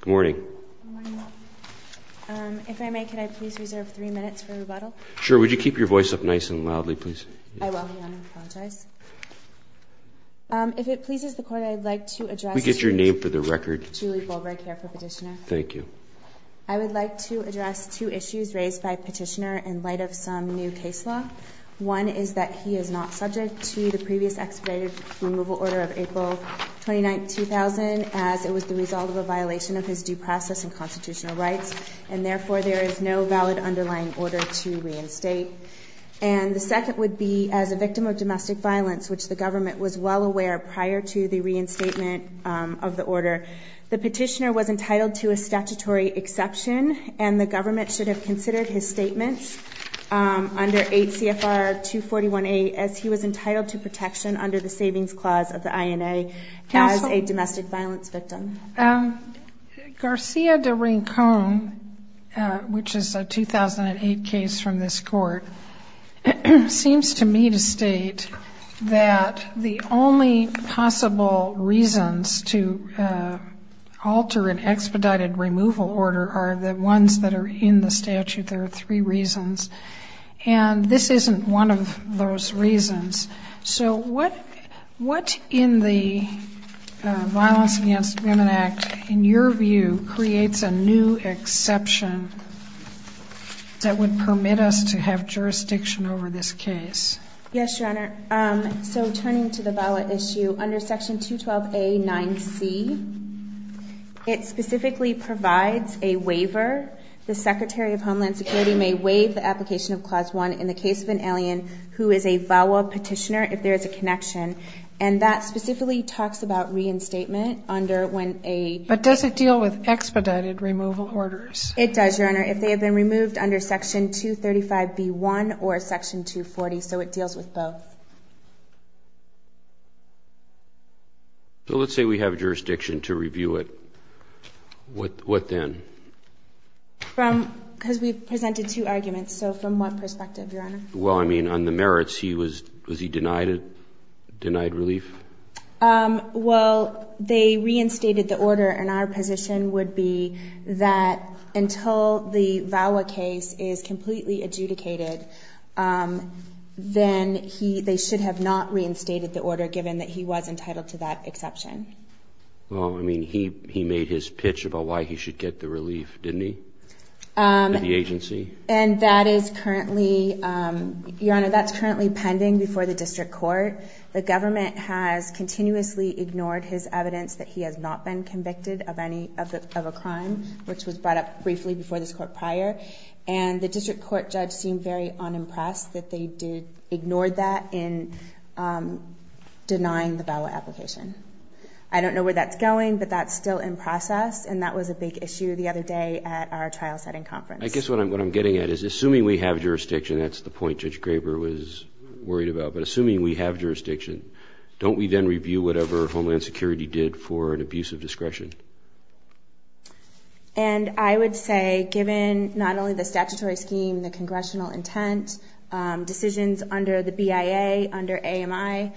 Good morning. If I may, could I please reserve three minutes for rebuttal? Sure. Would you keep your voice up nice and loudly, please? I will. I apologize. If it pleases the Court, I'd like to address... Could we get your name for the record? Julie Bulbright here for petitioner. Thank you. I would like to address two issues raised by petitioner in light of some new case law. One is that he is not subject to the previous expedited removal order of April 29, 2000 as it was the result of a violation of his due process and constitutional rights, and therefore there is no valid underlying order to reinstate. And the second would be as a victim of domestic violence, which the government was well aware prior to the reinstatement of the order, the petitioner was entitled to a statutory exception, and the government should have considered his statements under 8 CFR 241A as he was entitled to protection under the Savings Clause of the INA as a domestic violence victim. Garcia de Rincon, which is a 2008 case from this Court, seems to me to state that the only possible reasons to alter an expedited removal order are the ones that are in the statute. There are three reasons. And this isn't one of those reasons. So what in the Violence Against Women Act, in your view, creates a new exception that would permit us to have jurisdiction over this case? Yes, Your Honor. So turning to the VAWA issue, under Section 212A 9C, it specifically provides a waiver. The Secretary of Homeland Security may waive the application of Clause 1 in the case of an alien who is a VAWA petitioner if there is a connection. And that specifically talks about reinstatement under when a ---- But does it deal with expedited removal orders? It does, Your Honor, if they have been removed under Section 235B1 or Section 240. So it deals with both. So let's say we have jurisdiction to review it. What then? Because we presented two arguments. So from what perspective, Your Honor? Well, I mean, on the merits, was he denied relief? Well, they reinstated the order. And our position would be that until the VAWA case is completely adjudicated, then they should have not reinstated the order, given that he was entitled to that exception. Well, I mean, he made his pitch about why he should get the relief, didn't he, at the agency? And that is currently pending before the district court. The government has continuously ignored his evidence that he has not been convicted of a crime, which was brought up briefly before this court prior. And the district court judge seemed very unimpressed that they ignored that in denying the VAWA application. I don't know where that's going, but that's still in process, and that was a big issue the other day at our trial setting conference. I guess what I'm getting at is, assuming we have jurisdiction, that's the point Judge Graber was worried about, but assuming we have jurisdiction, don't we then review whatever Homeland Security did for an abuse of discretion? And I would say, given not only the statutory scheme, the congressional intent, decisions under the BIA, under AMI,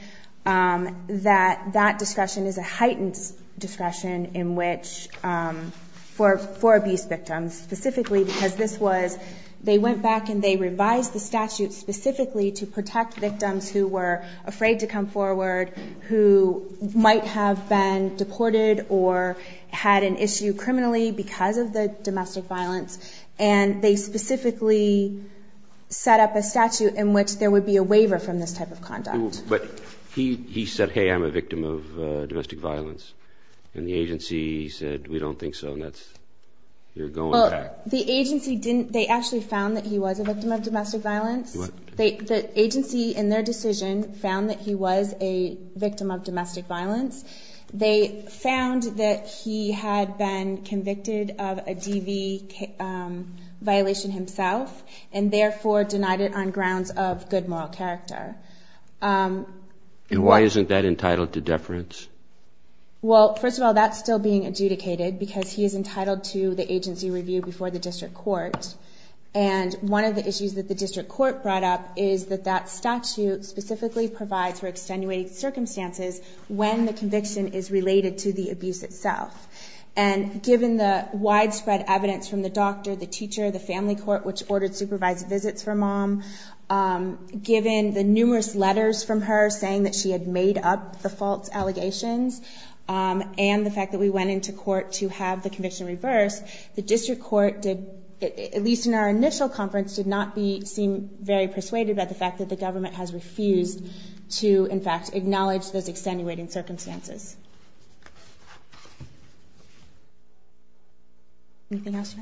that that discretion is a heightened discretion for abuse victims, specifically because they went back and they revised the statute specifically to protect victims who were afraid to come forward, who might have been deported or had an issue criminally because of the statute in which there would be a waiver from this type of conduct. But he said, hey, I'm a victim of domestic violence. And the agency said, we don't think so, and that's, you're going back. Well, the agency didn't, they actually found that he was a victim of domestic violence. What? The agency in their decision found that he was a victim of domestic violence. They found that he had been convicted of a DV violation himself, and therefore denied it on grounds of good moral character. And why isn't that entitled to deference? Well, first of all, that's still being adjudicated because he is entitled to the agency review before the district court. And one of the issues that the district court brought up is that that statute specifically provides for extenuating circumstances when the conviction is related to the abuse itself. And given the widespread evidence from the doctor, the teacher, the family court, which ordered supervised visits for mom, given the numerous letters from her saying that she had made up the false allegations, and the fact that we went into court to have the conviction reversed, the district court did, at least in our initial conference, did not seem very persuaded by the fact that the government has refused to, in fact, acknowledge those extenuating circumstances. Anything else,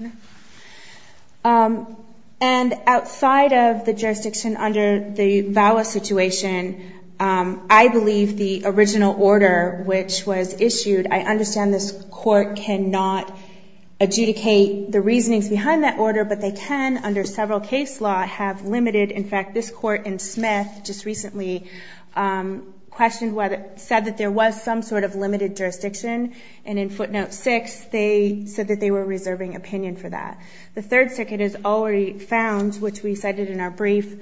Jenna? And outside of the jurisdiction under the VAWA situation, I believe the original order which was issued, I understand this court cannot adjudicate the reasonings behind that order, but they can, under several case law, have limited. In fact, this court in Smith just recently questioned whether, said that there was some sort of limited jurisdiction, and in footnote six, they said that they were reserving opinion for that. The third circuit has already found, which we cited in our brief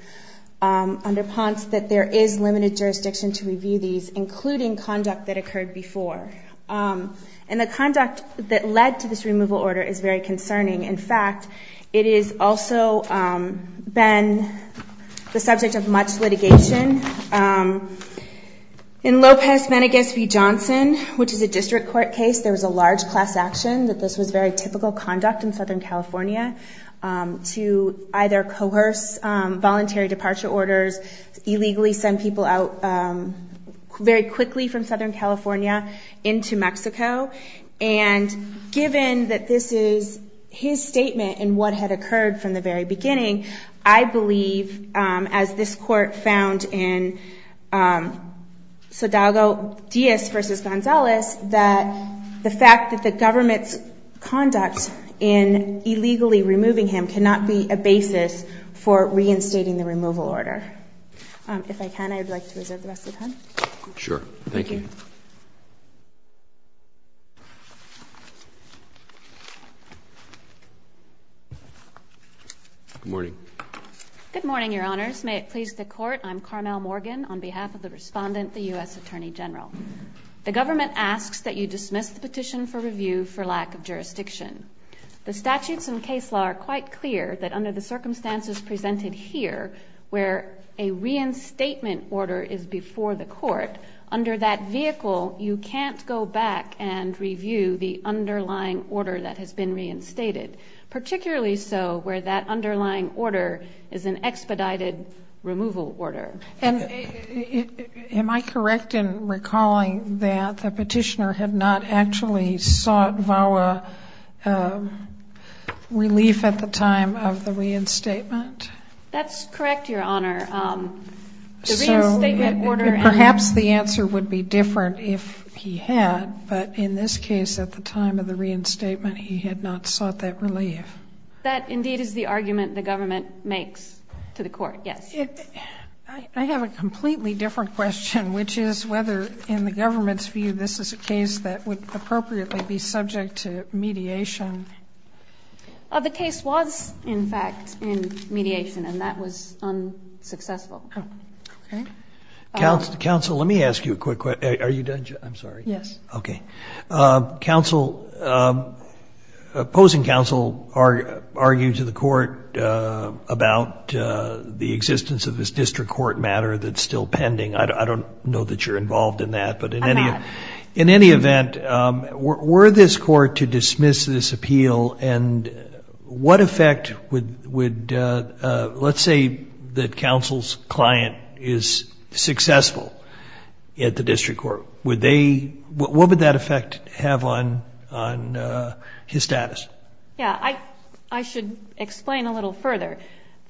under Ponce, that there is limited jurisdiction to review these, including conduct that occurred before. And the conduct that led to this removal order is very concerning. In fact, it has also been the subject of much litigation. In Lopez Menegas v. Johnson, which is a district court case, there was a large class action that this was very typical conduct in Southern California to either coerce voluntary departure orders, illegally send people out very quickly from Southern California into Mexico. And given that this is his statement and what had occurred from the very beginning, I believe, as this court found in Sodago-Diaz v. Gonzalez, that the fact that the government's conduct in illegally removing him cannot be a basis for reinstating the removal order. If I can, I would like to reserve the rest of the time. Sure. Thank you. Good morning. Good morning, Your Honors. May it please the Court, I'm Carmel Morgan, on behalf of the respondent, the U.S. Attorney General. The government asks that you dismiss the petition for review for lack of jurisdiction. The statutes and case law are quite clear that under the circumstances presented here, where a reinstatement order is before the court, under that vehicle, you can't go back and review the underlying order that has been reinstated, particularly so where that underlying order is an expedited removal order. Am I correct in recalling that the petitioner had not actually sought VAWA relief at the time of the reinstatement? That's correct, Your Honor. So perhaps the answer would be different if he had, but in this case at the time of the reinstatement he had not sought that relief. That indeed is the argument the government makes to the court, yes. I have a completely different question, which is whether in the government's view this is a case that would appropriately be subject to mediation. The case was, in fact, in mediation, and that was unsuccessful. Okay. Counsel, let me ask you a quick question. Are you done? I'm sorry. Yes. Okay. Counsel, opposing counsel argued to the court about the existence of this district court matter that's still pending. I don't know that you're involved in that. I'm not. In any event, were this court to dismiss this appeal, and what effect would let's say the counsel's client is successful at the district court, what would that effect have on his status? Yes. I should explain a little further.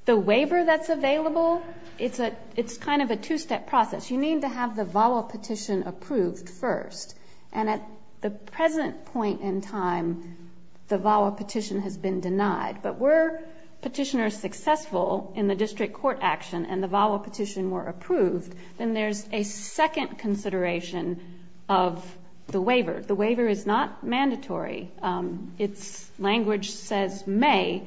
The waiver that's available, it's kind of a two-step process. You need to have the VAWA petition approved first, and at the present point in time the VAWA petition has been denied. But were petitioners successful in the district court action and the VAWA petition were approved, then there's a second consideration of the waiver. The waiver is not mandatory. Its language says may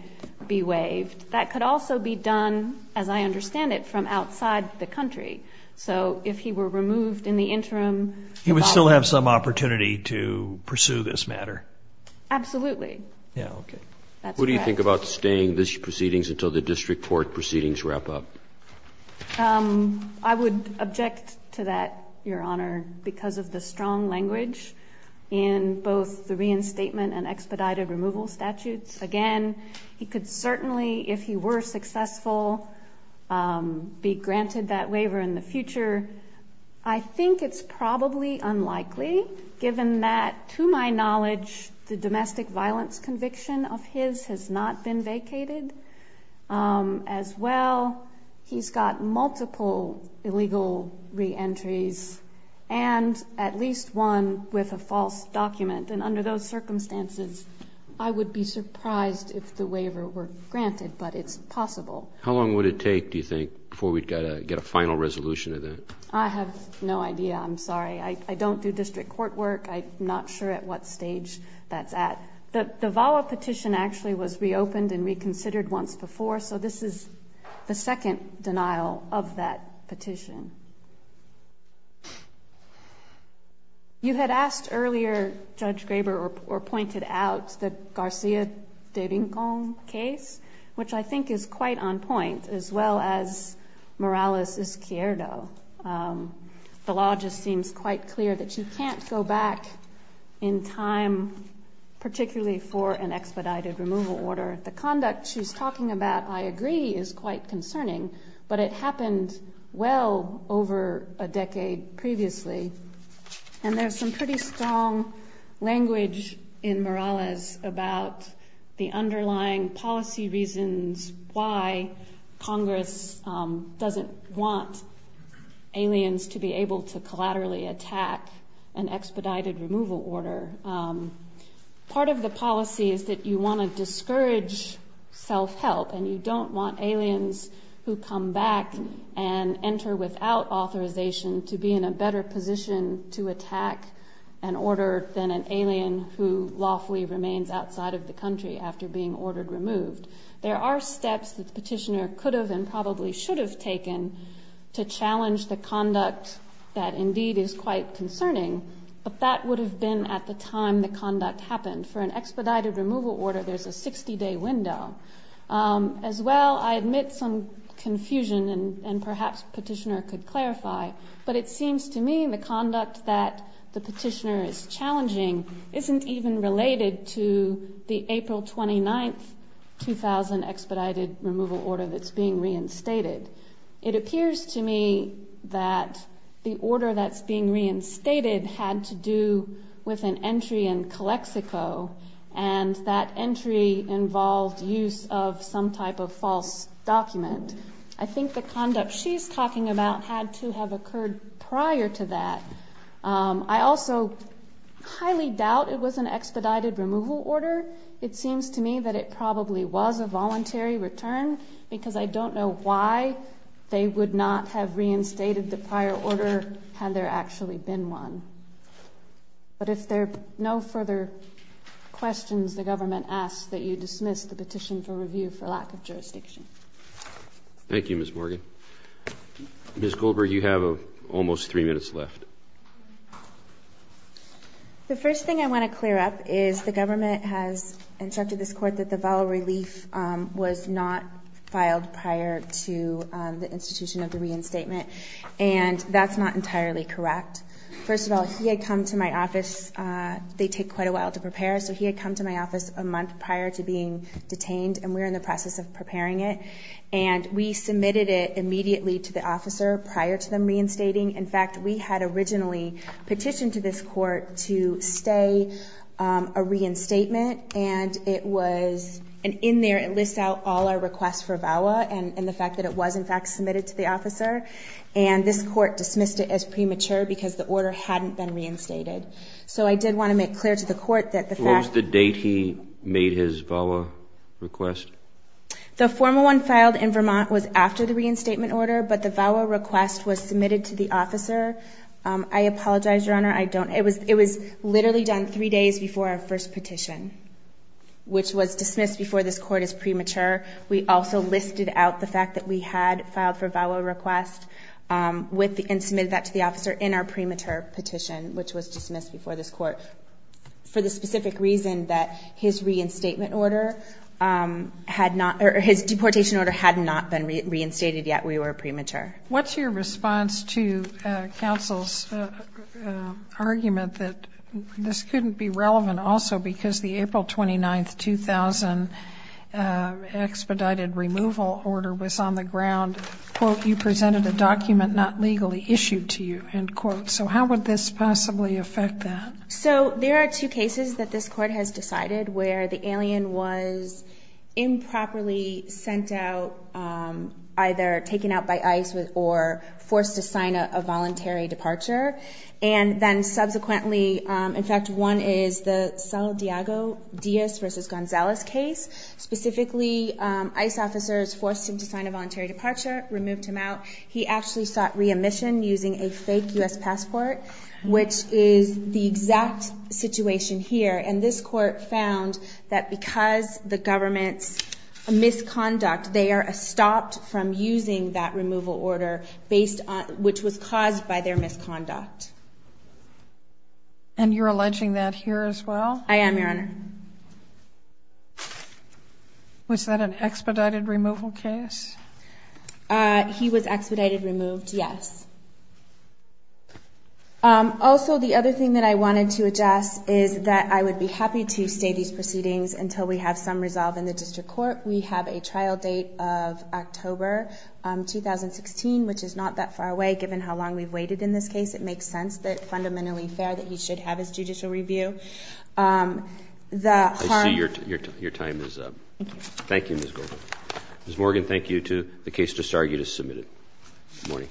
be waived. That could also be done, as I understand it, from outside the country. So if he were removed in the interim. He would still have some opportunity to pursue this matter. Absolutely. Yeah, okay. That's correct. What do you think about staying this proceedings until the district court proceedings wrap up? I would object to that, Your Honor, because of the strong language in both the reinstatement and expedited removal statutes. Again, he could certainly, if he were successful, be granted that waiver in the future. I think it's probably unlikely, given that, to my knowledge, the domestic violence conviction of his has not been vacated. As well, he's got multiple illegal reentries and at least one with a false document. And under those circumstances, I would be surprised if the waiver were granted. But it's possible. How long would it take, do you think, before we'd get a final resolution to that? I have no idea. I'm sorry. I don't do district court work. I'm not sure at what stage that's at. The VAWA petition actually was reopened and reconsidered once before. So this is the second denial of that petition. You had asked earlier, Judge Graber, or pointed out, the Garcia de Vincon case, which I think is quite on point, as well as Morales-Izquierdo. The law just seems quite clear that you can't go back in time, particularly for an expedited removal order. The conduct she's talking about, I agree, is quite concerning. But it happened well over a decade previously. And there's some pretty strong language in Morales about the underlying policy reasons why Congress doesn't want aliens to be able to collaterally attack an expedited removal order. Part of the policy is that you want to discourage self-help, and you don't want aliens who come back and enter without authorization to be in a better position to attack an order than an alien who lawfully remains outside of the country after being ordered removed. There are steps that the petitioner could have and probably should have taken to challenge the conduct that indeed is quite concerning, but that would have been at the time the conduct happened. For an expedited removal order, there's a 60-day window. As well, I admit some confusion, and perhaps the petitioner could clarify, but it seems to me the conduct that the petitioner is challenging isn't even related to the April 29, 2000, expedited removal order that's being reinstated. It appears to me that the order that's being reinstated had to do with an entry in Calexico, and that entry involved use of some type of false document. I think the conduct she's talking about had to have occurred prior to that. I also highly doubt it was an expedited removal order. It seems to me that it probably was a voluntary return, because I don't know why they would not have reinstated the prior order had there actually been one. But if there are no further questions, the government asks that you dismiss the petition for review for lack of jurisdiction. Thank you, Ms. Morgan. Ms. Goldberg, you have almost three minutes left. The first thing I want to clear up is the government has instructed this court that the vol relief was not filed prior to the institution of the reinstatement, and that's not entirely correct. First of all, he had come to my office. They take quite a while to prepare, so he had come to my office a month prior to being detained, and we were in the process of preparing it, and we submitted it immediately to the officer prior to them reinstating. In fact, we had originally petitioned to this court to stay a reinstatement, and in there it lists out all our requests for VAWA and the fact that it was, in fact, submitted to the officer, and this court dismissed it as premature because the order hadn't been reinstated. So I did want to make clear to the court that the fact that he made his VAWA request. The formal one filed in Vermont was after the reinstatement order, but the VAWA request was submitted to the officer. I apologize, Your Honor. It was literally done three days before our first petition, which was dismissed before this court as premature. We also listed out the fact that we had filed for VAWA request and submitted that to the officer in our premature petition, which was dismissed before this court for the specific reason that his reinstatement order had not or his deportation order had not been reinstated yet we were premature. What's your response to counsel's argument that this couldn't be relevant also because the April 29, 2000 expedited removal order was on the ground, quote, you presented a document not legally issued to you, end quote. So how would this possibly affect that? So there are two cases that this court has decided where the alien was improperly sent out, either taken out by ICE or forced to sign a voluntary departure. And then subsequently, in fact, one is the Sal Diago Diaz versus Gonzalez case. Specifically, ICE officers forced him to sign a voluntary departure, removed him out. He actually sought re-admission using a fake U.S. passport, which is the exact situation here. And this court found that because the government's misconduct, they are stopped from using that removal order, which was caused by their misconduct. And you're alleging that here as well? I am, Your Honor. Was that an expedited removal case? He was expedited removed, yes. Also, the other thing that I wanted to address is that I would be happy to stay these proceedings until we have some resolve in the district court. We have a trial date of October 2016, which is not that far away. Given how long we've waited in this case, it makes sense that fundamentally fair that he should have his judicial review. I see your time is up. Thank you. Thank you, Ms. Goldman. Ms. Morgan, thank you. The case disargued is submitted. Good morning.